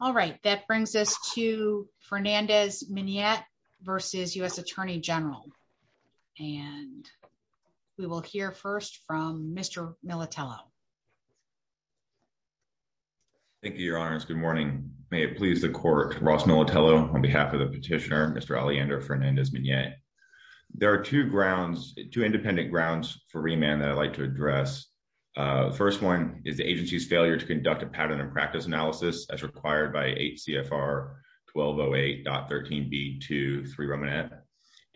All right, that brings us to Fernandez-Miniet v. U.S. Attorney General. And we will hear first from Mr. Militello. Thank you, Your Honors. Good morning. May it please the Court, Ross Militello on behalf of the petitioner, Mr. Aleyander Fernandez-Miniet. There are two grounds, two independent grounds for remand that I'd like to address. The first one is the agency's failure to conduct a pattern and practice analysis as required by 8 CFR 1208.13b.2, 3 remand.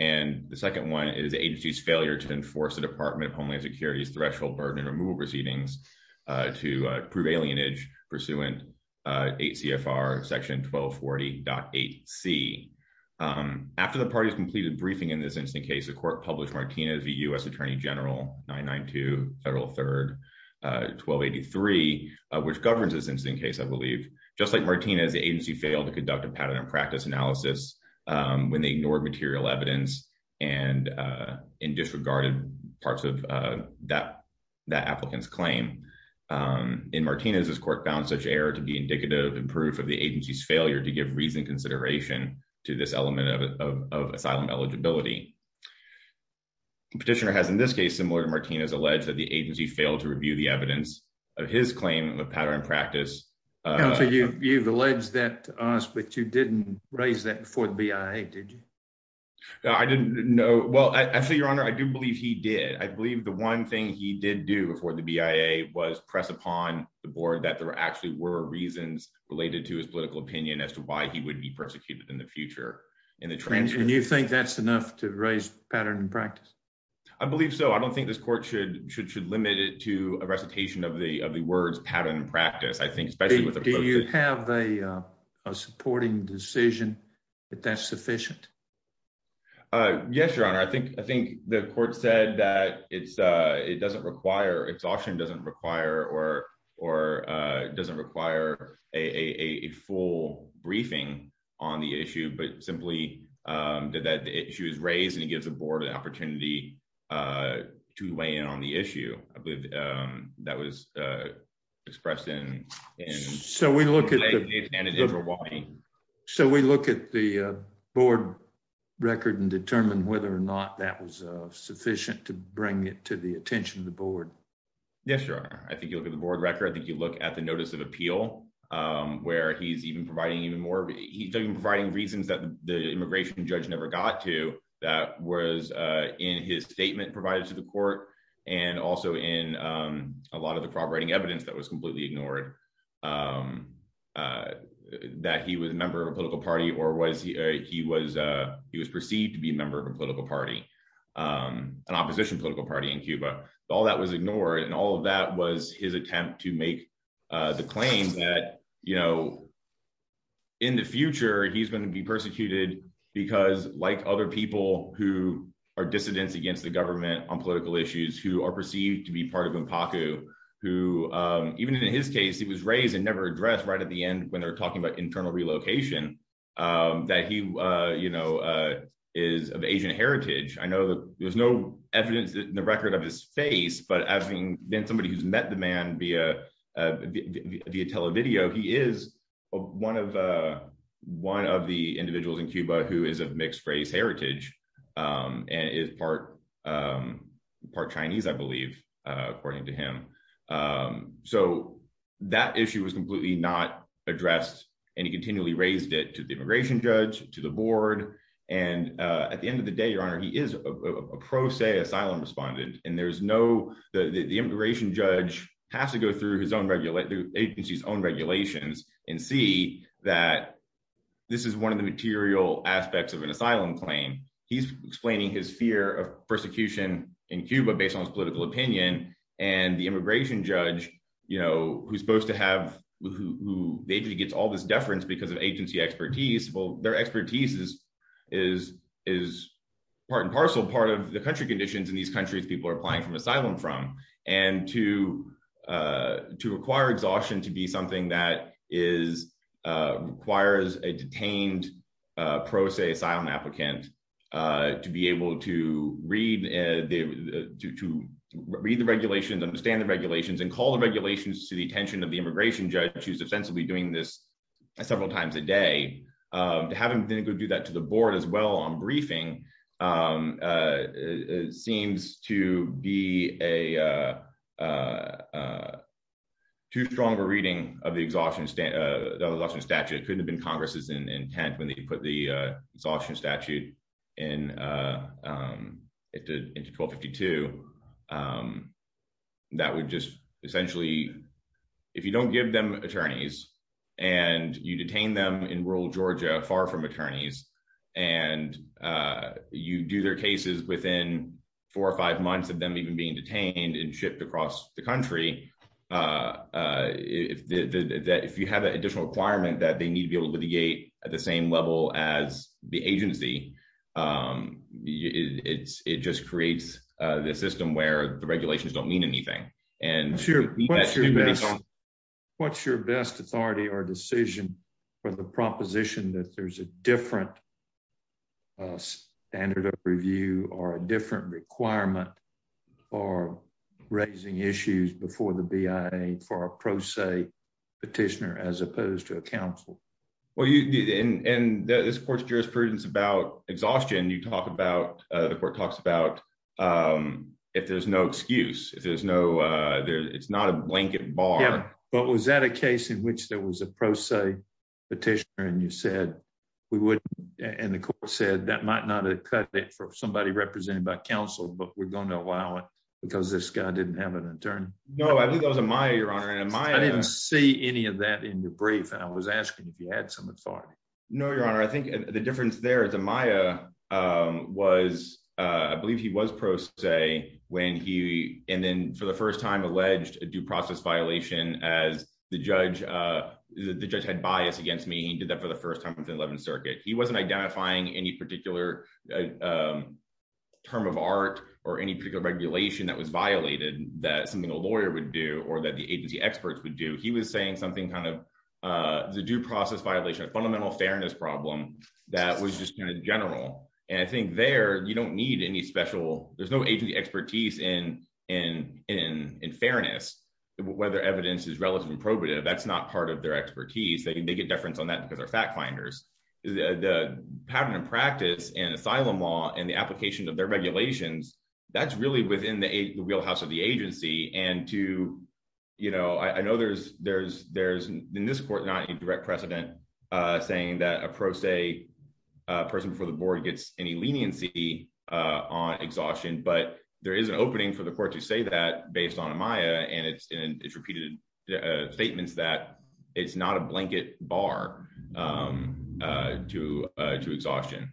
And the second one is the agency's failure to enforce the Department of Homeland Security's threshold burden removal proceedings to prove alienage pursuant 8 CFR section 1240.8c. After the party's completed briefing in this incident case, the Court published Martinez v. U.S. Attorney General 992 Federal 3 1283, which governs this incident case, I believe. Just like Martinez, the agency failed to conduct a pattern and practice analysis when they ignored material evidence and disregarded parts of that applicant's claim. In Martinez, this Court found such error to be indicative and proof of the agency's failure to give reasoned consideration to this element of asylum eligibility. The petitioner has, in this case, similar to Martinez, alleged that the agency failed to review the evidence of his claim of pattern and practice. You've alleged that to us, but you didn't raise that before the BIA, did you? No, I didn't. No. Well, actually, Your Honor, I do believe he did. I believe the one thing he did do before the BIA was press upon the board that there actually were reasons related to his political opinion as to why he would be persecuted in the future. And you think that's enough to raise pattern and practice? I believe so. I don't think this Court should limit it to a recitation of the words pattern and practice. Do you have a supporting decision that that's sufficient? Yes, Your Honor. I think the Court said that it doesn't require, exhaustion doesn't require, or doesn't require a full briefing on the issue, but simply that the issue is raised and it gives the board an opportunity to weigh in on the issue. I believe that was expressed in... So we look at the board record and determine whether or not that was sufficient to bring it to the attention of the board. Yes, Your Honor. I think you look at the board record. I think you look at the notice of appeal, where he's even providing even more, he's even providing reasons that the immigration judge never got to that was in his statement provided to the court and also in a lot of the corroborating evidence that was completely ignored that he was a member of a political party or he was perceived to be a member of a political party. An opposition political party in Cuba. All that was ignored and all of that was his attempt to make the claim that in the future he's going to be persecuted because like other people who are dissidents against the government on political issues, who are perceived to be part of Mpaku, who even in his case, he was raised and never addressed right at the end when they're talking about internal relocation, that he is of Asian heritage. I know that there's no evidence in the record of his face, but having been somebody who's met the man via video, he is one of the individuals in Cuba who is of mixed race heritage and is part Chinese, I believe, according to him. So that issue was completely not addressed and he continually raised it to the immigration judge, to the board, and at the end of the day, your honor, he is a pro se asylum respondent and there's no, the immigration judge has to go through his own agency's own regulations and see that this is one of the material aspects of an asylum claim. He's explaining his fear of persecution in Cuba based on his political opinion and the immigration judge, you know, who's supposed to have, who the agency gets all this deference because of agency expertise, well their expertise is part and parcel part of the country conditions in these countries people are applying from asylum from and to require exhaustion to be something that requires a detained pro se asylum applicant to be able to read the regulations, understand the regulations, and call the regulations to the attention of the immigration judge who's ostensibly doing this several times a day. Having to do that to the board as well on briefing seems to be a too strong a reading of the exhaustion statute. It couldn't have been Congress's intent when they the exhaustion statute into 1252. That would just essentially, if you don't give them attorneys and you detain them in rural Georgia far from attorneys and you do their cases within four or five months of them even being detained and shipped across the country, if you have an additional requirement that they need to be able to be at the same level as the agency, it just creates a system where the regulations don't mean anything. What's your best authority or decision for the proposition that there's a different standard of review or a different requirement for raising issues before the BIA for a pro se petitioner as opposed to a counsel? Well you did and this court's jurisprudence about exhaustion you talk about the court talks about if there's no excuse if there's no there it's not a blanket bar. Yeah but was that a case in which there was a pro se petitioner and you said we wouldn't and the court said that might not have cut it for somebody represented by counsel but we're going to allow it because this guy didn't have an attorney? No I believe that was Amaya your honor and Amaya. I didn't see any of that in your brief and I was asking if you had some authority. No your honor I think the difference there is Amaya was I believe he was pro se when he and then for the first time alleged a due process violation as the judge the judge had bias against me he did that for the first time within the 11th circuit he wasn't identifying any particular term of art or any particular regulation that was violated that something a lawyer would do or that the agency experts would do he was saying something kind of the due process violation a fundamental fairness problem that was just kind of general and I think there you don't need any special there's no agency expertise in fairness whether evidence is that's not part of their expertise they get deference on that because they're fact finders the pattern of practice and asylum law and the application of their regulations that's really within the wheelhouse of the agency and to you know I know there's there's there's in this court not a direct precedent uh saying that a pro se person before the board gets any leniency on exhaustion but there is an opening for the court to say that based on Amaya and it's in repeated statements that it's not a blanket bar um uh to uh to exhaustion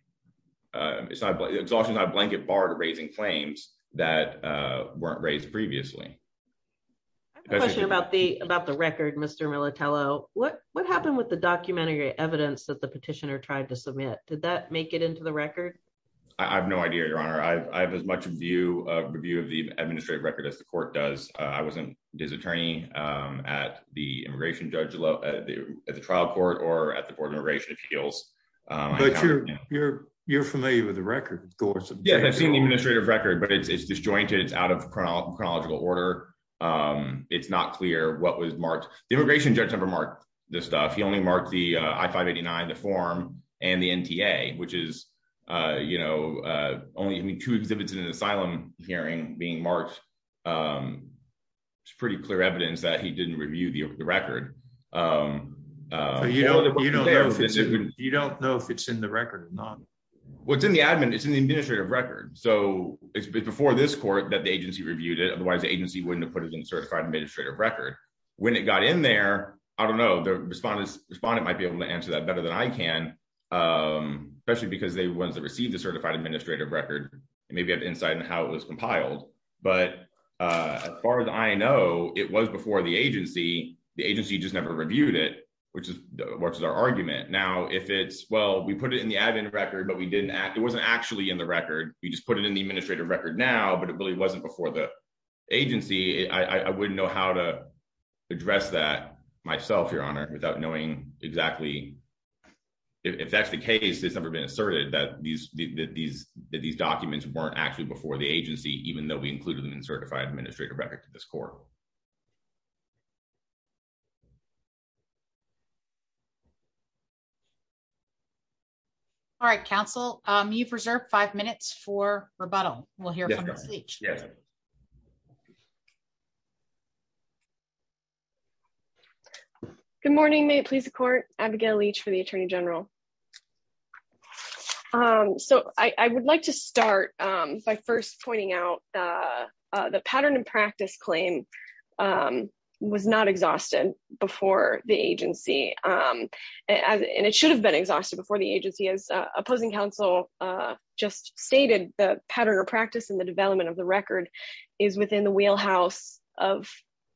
it's not exhaustion not a blanket bar to raising claims that uh weren't raised previously I have a question about the about the record Mr. Militello what what happened with the documentary evidence that the petitioner tried to submit did that make it into the record I have no idea your honor I have as much view of review of the administrative record as the at the immigration judge at the trial court or at the board of immigration appeals but you're you're you're familiar with the record of course yeah I've seen the administrative record but it's disjointed it's out of chronological order um it's not clear what was marked the immigration judge never marked this stuff he only marked the I-589 the form and the NTA which is uh you know uh only two exhibits in an asylum hearing being marked um pretty clear evidence that he didn't review the record um uh you know you don't know if it's in the record or not well it's in the admin it's in the administrative record so it's before this court that the agency reviewed it otherwise the agency wouldn't have put it in certified administrative record when it got in there I don't know the respondent might be able to answer that better than I can um especially because they were ones that received the certified administrative record and maybe have insight in how it was compiled but uh as far as I know it was before the agency the agency just never reviewed it which is what's our argument now if it's well we put it in the admin record but we didn't act it wasn't actually in the record we just put it in the administrative record now but it really wasn't before the agency I wouldn't know how to address that myself your honor without knowing exactly if that's the case it's never been asserted that these that these that these documents weren't actually before the agency even though we included them in certified administrative record to this court all right counsel um you've reserved five minutes for rebuttal we'll hear from you good morning may it please the court abigail leach for the attorney general um so I I would like to start um by first pointing out uh the pattern and practice claim um was not exhausted before the agency um and it should have been exhausted before the agency as opposing counsel uh just stated the pattern of practice and the development of the record is within the wheelhouse of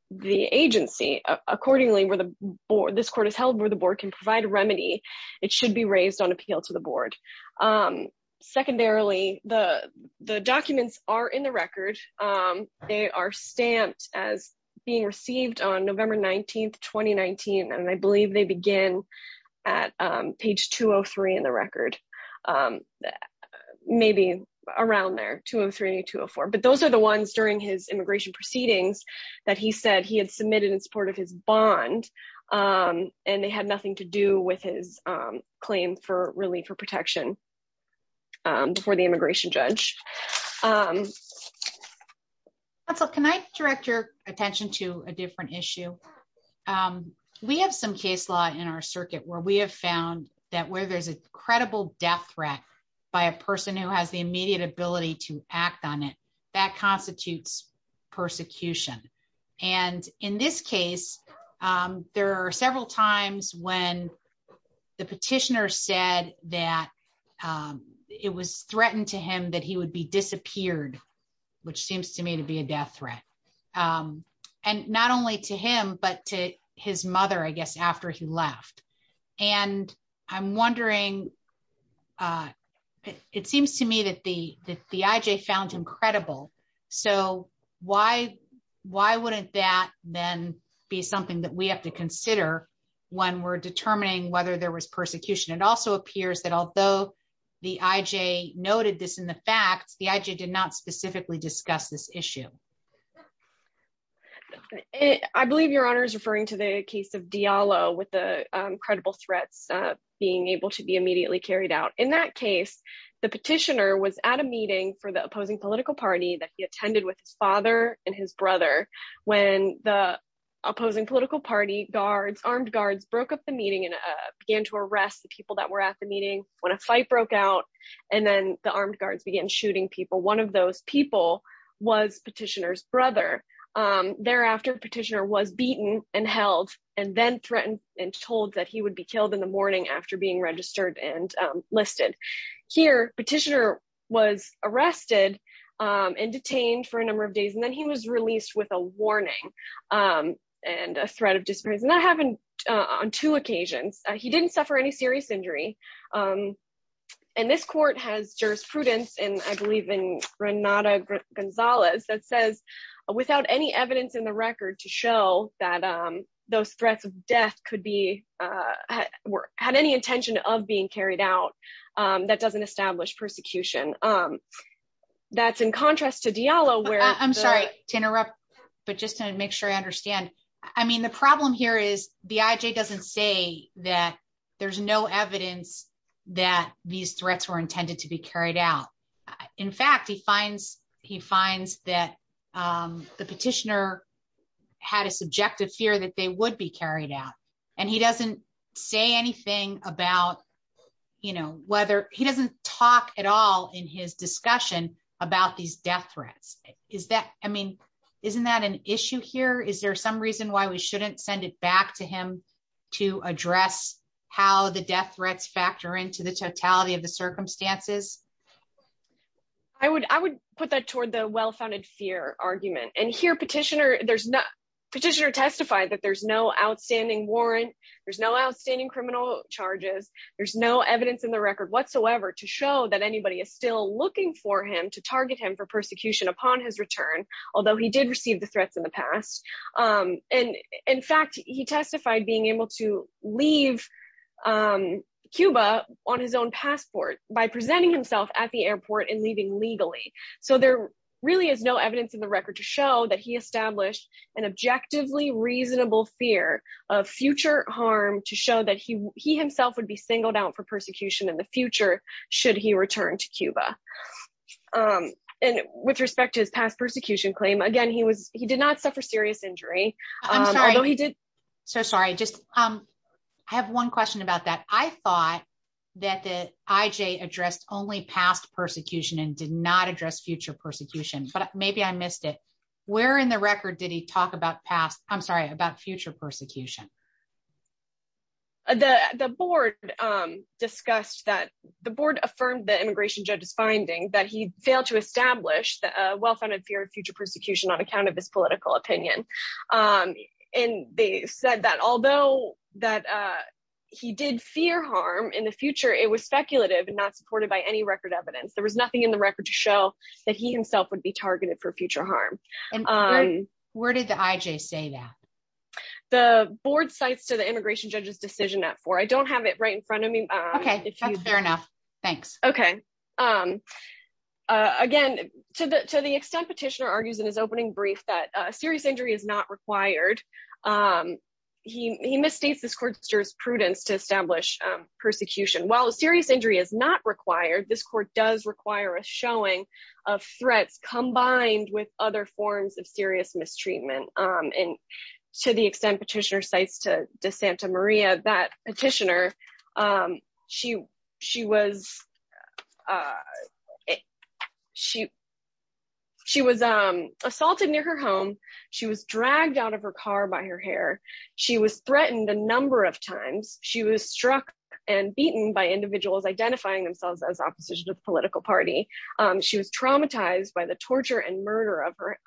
the agency accordingly where the board this court is held where the board can provide a remedy it should be raised on appeal to the board um secondarily the the documents are in the record um they are stamped as being received on november 19th 2019 and I believe they begin at um page 203 in the record um maybe around there 203 204 but those are the ones during his immigration proceedings that he said he had submitted in support of his bond um and they had nothing to do with his um claim for relief for protection um before the immigration judge um so can I direct your attention to a different issue um we have some case law in our circuit where we have found that where there's a credible death threat by a person who has the there are several times when the petitioner said that um it was threatened to him that he would be disappeared which seems to me to be a death threat um and not only to him but to his mother I guess after he left and I'm wondering uh it seems to me that the that the IJ found credible so why why wouldn't that then be something that we have to consider when we're determining whether there was persecution it also appears that although the IJ noted this in the facts the IJ did not specifically discuss this issue I believe your honor is referring to the case of Diallo with the credible threats uh being able to be immediately carried out in that case the petitioner was at a meeting for the opposing political party that he attended with his father and his brother when the opposing political party guards armed guards broke up the meeting and began to arrest the people that were at the meeting when a fight broke out and then the armed guards began shooting people one of those people was petitioner's brother um thereafter petitioner was beaten and held and then threatened and told that he would be killed in the morning after being registered and listed here petitioner was arrested um and detained for a number of days and then he was released with a warning um and a threat of disgrace and that happened on two occasions he didn't suffer any serious injury um and this court has jurisprudence and I believe in Granada Gonzalez that says without any evidence in the record to show that um those of being carried out um that doesn't establish persecution um that's in contrast to Diallo where I'm sorry to interrupt but just to make sure I understand I mean the problem here is the IJ doesn't say that there's no evidence that these threats were intended to be carried out in fact he finds he finds that um the petitioner had a subjective fear that they would be carried out and he doesn't say anything about you know whether he doesn't talk at all in his discussion about these death threats is that I mean isn't that an issue here is there some reason why we shouldn't send it back to him to address how the death threats factor into the totality of the circumstances I would I would put that toward the well-founded fear argument and here petitioner petitioner testified that there's no outstanding warrant there's no outstanding criminal charges there's no evidence in the record whatsoever to show that anybody is still looking for him to target him for persecution upon his return although he did receive the threats in the past um and in fact he testified being able to leave um Cuba on his own passport by presenting himself at the airport and leaving legally so there really is no evidence in the record to show that he established an objectively reasonable fear of future harm to show that he he himself would be singled out for persecution in the future should he return to Cuba um and with respect to his past persecution claim again he was he did not suffer serious injury although he did so sorry just um I have one question about that I thought that the IJ addressed only past persecution and did not address future persecution but maybe I missed it where in the record did he talk about past I'm sorry about future persecution the the board um discussed that the board affirmed the immigration judge's finding that he failed to establish the well-founded fear of future persecution on account of his political opinion um and they said that although that uh he did fear in the future it was speculative and not supported by any record evidence there was nothing in the record to show that he himself would be targeted for future harm um where did the IJ say that the board cites to the immigration judge's decision at four I don't have it right in front of me okay that's fair enough thanks okay um uh again to the to the extent petitioner argues in his opening brief that a serious injury is not required um he he misstates this court's prudence to establish persecution while a serious injury is not required this court does require a showing of threats combined with other forms of serious mistreatment um and to the extent petitioner cites to de santa maria that petitioner um she she was uh she she was um assaulted near her home she was dragged out of her car by her hair she was threatened a number of times she was struck and beaten by individuals identifying themselves as opposition to the political party um she was traumatized by the torture and murder of her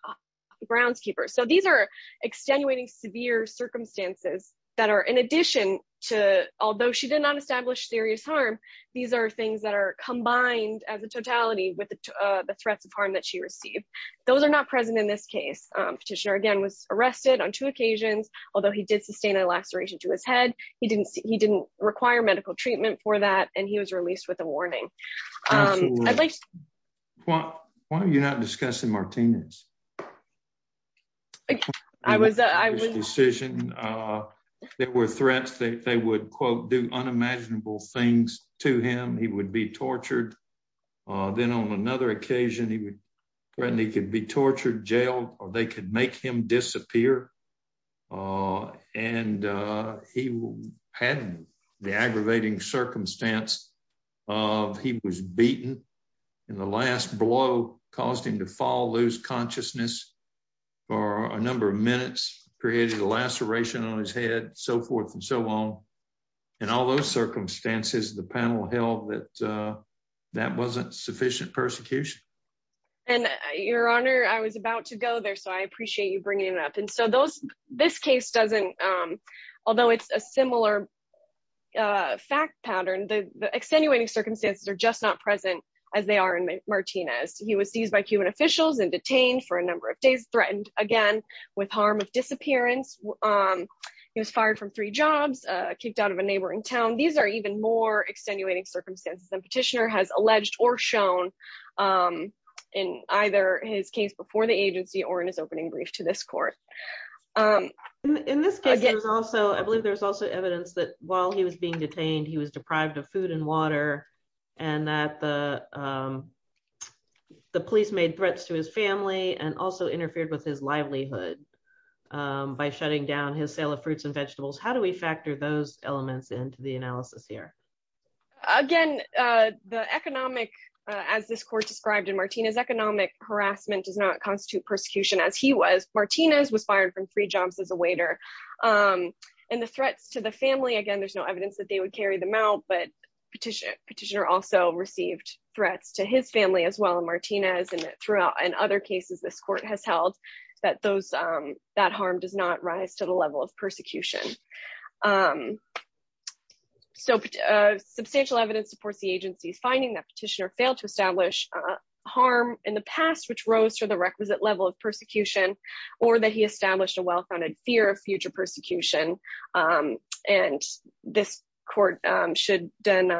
groundskeepers so these are extenuating severe circumstances that are in addition to although she did not establish serious harm these are things that are combined as a totality with the threats of harm that she received those are not present in this case um petitioner again was arrested on two occasions although he did sustain a laceration to his head he didn't he didn't require medical treatment for that and he was released with a warning um i'd like why why are you not discussing martinez i was i was decision uh there were threats that they would quote do unimaginable things to him he would be tortured uh then on another occasion he would threaten he could be tortured jailed or they could make him disappear uh and uh he had the aggravating circumstance of he was beaten and the last blow caused him to fall lose consciousness for a number of minutes created a laceration on his head so forth and so on in all those circumstances the panel held that that wasn't sufficient persecution and your honor i was about to go there so i appreciate you bringing it up and so those this case doesn't um although it's a similar uh fact pattern the extenuating circumstances are just not present as they are in martinez he was seized by cuban um he was fired from three jobs uh kicked out of a neighboring town these are even more extenuating circumstances and petitioner has alleged or shown um in either his case before the agency or in his opening brief to this court um in this case there's also i believe there's also evidence that while he was being detained he was deprived of food and water and that the um the police made threats to his family and also interfered with his livelihood by shutting down his sale of fruits and vegetables how do we factor those elements into the analysis here again uh the economic as this court described in martinez economic harassment does not constitute persecution as he was martinez was fired from three jobs as a waiter um and the threats to the family again there's no evidence that they would carry them out but petition petitioner also received threats to his family as well martinez and throughout in other cases this court has held that those um that harm does not rise to the level of persecution um so substantial evidence supports the agency's finding that petitioner failed to establish uh harm in the past which rose to the requisite level of persecution or that he established a well-founded fear of future persecution um and this court um should then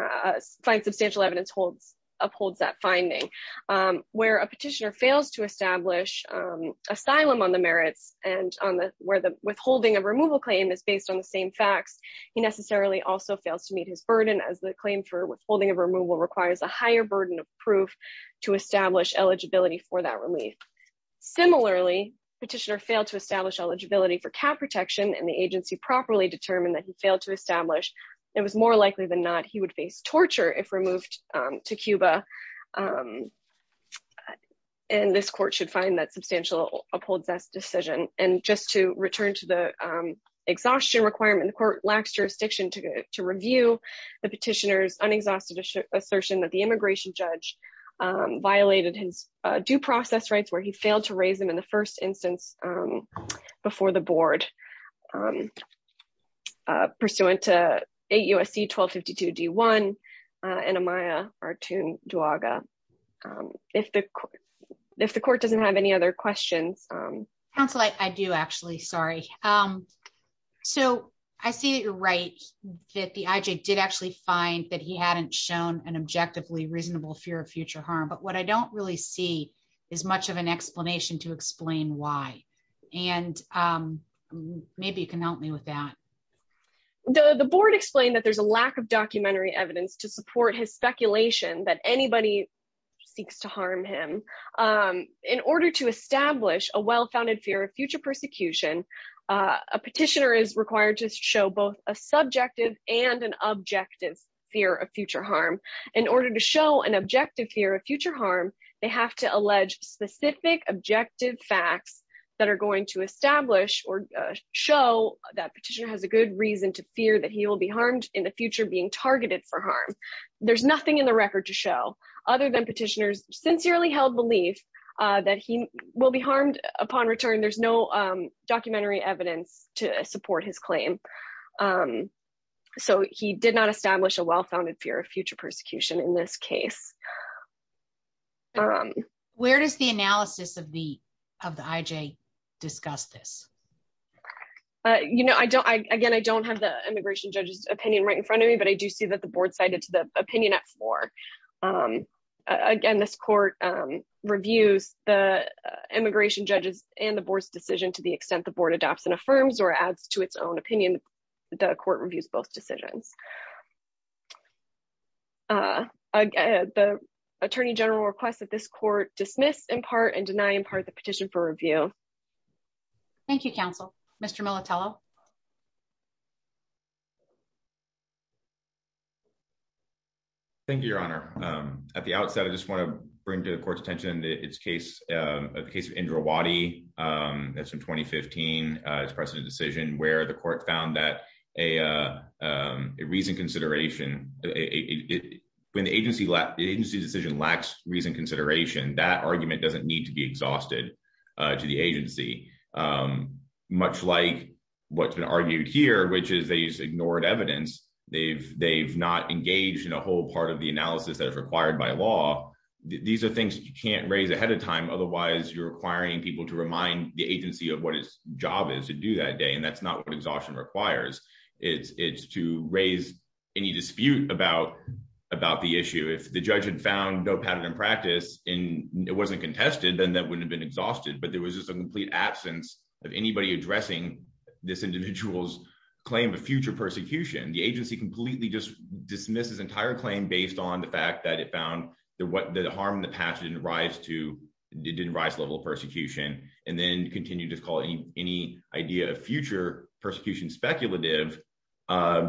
find substantial evidence holds upholds that finding um where a petitioner fails to establish um asylum on the merits and on the where the withholding of removal claim is based on the same facts he necessarily also fails to meet his burden as the claim for withholding of removal requires a higher burden of proof to establish eligibility for that relief similarly petitioner failed to establish eligibility for cat protection and the agency properly determined that he failed to establish it was more likely than not he would face torture if removed to cuba um and this court should find that substantial upholds that decision and just to return to the um exhaustion requirement the court lacks jurisdiction to to review the petitioner's unexhausted assertion that the immigration judge um violated his due process rights where he failed to raise them in the first instance um before the board um uh pursuant to a usc 1252 d1 uh and amaya artun duaga um if the if the court doesn't have any other questions um council i do actually sorry um so i see that you're right that the ij did actually find that he hadn't shown an objectively reasonable fear of future harm but what i don't really see is much of an explanation to explain why and um maybe you can help me with that the the board explained that there's a lack of documentary evidence to support his speculation that anybody seeks to harm him um in order to establish a well-founded fear of future persecution a petitioner is required to show both a subjective and an objective fear of future harm in order to show an objective fear of future harm they have to allege specific objective facts that are going to establish or show that petitioner has a good reason to fear that he will be harmed in the future being targeted for harm there's nothing in the record to show other than petitioners sincerely held belief uh that he will be harmed upon return there's no um documentary evidence to support his claim um so he did not establish a well-founded fear of future persecution in this case um where does the analysis of the of the ij discuss this uh you know i don't i again i don't have the immigration judge's opinion right in front of me but i do see that the board cited to the opinion at four um again this court um reviews the immigration judges and the board's decision to the extent the board adopts and affirms or adds to its own opinion the court reviews both decisions uh again the attorney general requests that this court dismiss in part and deny in part the petition for review thank you counsel mr militello thank you your honor um at the outset i just want to bring to the court's attention its case um the case of indra wadi um that's from 2015 uh its precedent decision where the court found that a uh um a reason consideration it when the agency let the agency decision lacks reason consideration that argument doesn't need to be exhausted uh to the agency um much like what's been argued here which is they just ignored evidence they've they've not engaged in a whole part of the analysis that is required by law these are things you can't raise ahead of time otherwise you're requiring people to remind the agency of what its job is to do that day and that's not what exhaustion requires it's it's to raise any dispute about about the issue if the judge had found no pattern in practice and it wasn't contested then that wouldn't have been exhausted but there was just a complete absence of anybody addressing this individual's claim of future persecution the agency completely just dismisses entire claim based on the fact that it found that what the harm in the past didn't rise to it didn't rise level of persecution and then continue to call any idea future persecution speculative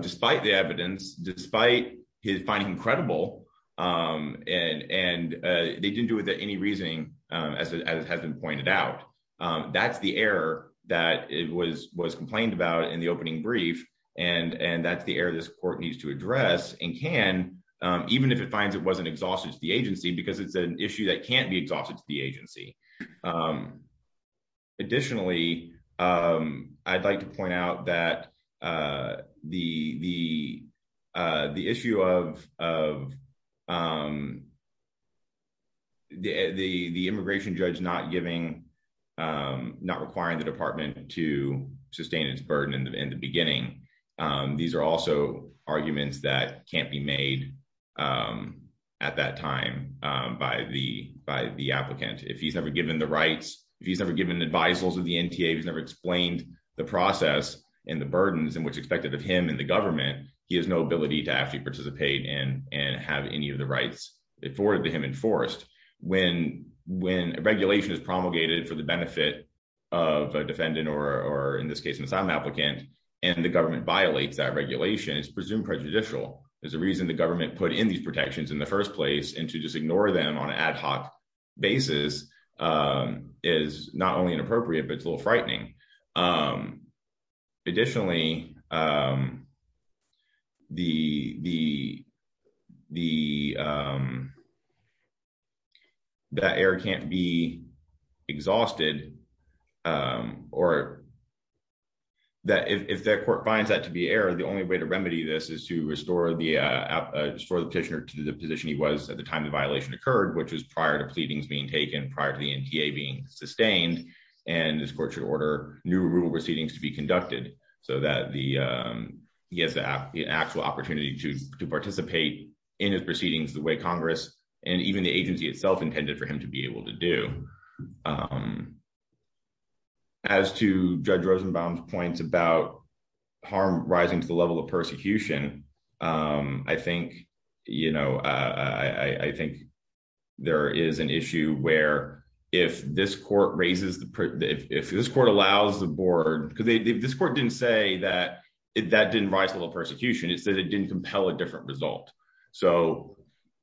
despite the evidence despite his finding credible um and and uh they didn't do it that any reasoning um as it has been pointed out um that's the error that it was was complained about in the opening brief and and that's the error this court needs to address and can even if it finds it wasn't exhausted to the agency because it's an issue that can't be exhausted to the agency um additionally um i'd like to point out that uh the the uh the issue of of um the the the immigration judge not giving um not requiring the department to sustain its burden in the beginning um these are also arguments that can't be made um at that time um by the by the applicant if he's never given the rights if he's never given advisals of the nta he's never explained the process and the burdens and what's expected of him and the government he has no ability to actually participate and and have any of the rights afforded to him enforced when when a regulation is promulgated for the benefit of a defendant or or in this case an asylum applicant and the government violates that regulation it's presumed prejudicial there's a reason the government put in these protections in the first place and to just ignore them on an ad hoc basis um is not only inappropriate but it's a little frightening um additionally um the the the um that error can't be exhausted um or that if that court finds that to be error the only way to remedy this is to restore the uh uh restore the petitioner to the position he was at the time the violation occurred which was prior to pleadings being taken prior to the nta being sustained and this court should order new rule proceedings to be conducted so that the um he has the actual opportunity to to participate in his proceedings the way congress and even the agency itself intended for him to be able to do um as to judge rosenbaum's points about harm rising to the level of persecution um i think you know i i i think there is an issue where if this court raises the if this court allows the board because this court didn't say that it that didn't rise a little persecution it said it didn't result so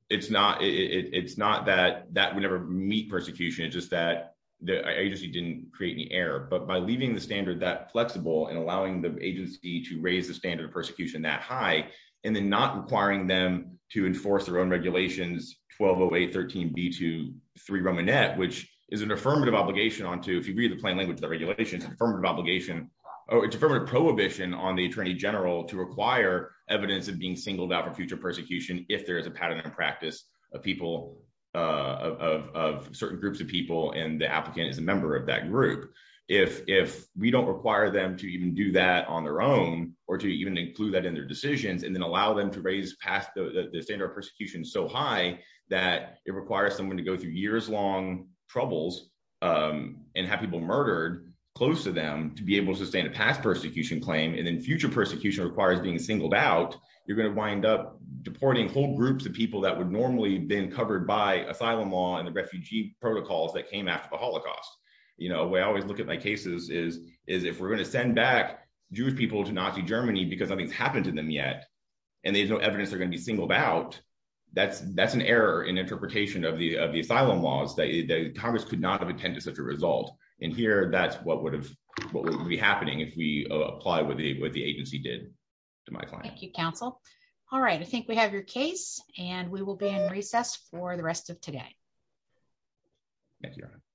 it's not it it's not that that would never meet persecution it's just that the agency didn't create any error but by leaving the standard that flexible and allowing the agency to raise the standard of persecution that high and then not requiring them to enforce their own regulations 1208 13 b23 romanette which is an affirmative obligation onto if you read the plain language the regulations affirmative obligation oh it's affirmative prohibition on the attorney general to require evidence of being singled out for future persecution if there is a pattern in practice of people uh of of certain groups of people and the applicant is a member of that group if if we don't require them to even do that on their own or to even include that in their decisions and then allow them to raise past the standard of persecution so high that it requires someone to go through years-long troubles um and have people murdered close to them to be able to pass persecution claim and then future persecution requires being singled out you're going to wind up deporting whole groups of people that would normally been covered by asylum law and the refugee protocols that came after the holocaust you know we always look at my cases is is if we're going to send back jewish people to nazi germany because nothing's happened to them yet and there's no evidence they're going to be singled out that's that's an error in interpretation of the of the asylum laws that congress could not have attended such a result and here that's what would have what would be happening if we apply what the what the agency did to my client thank you counsel all right i think we have your case and we will be in recess for the rest of today thank you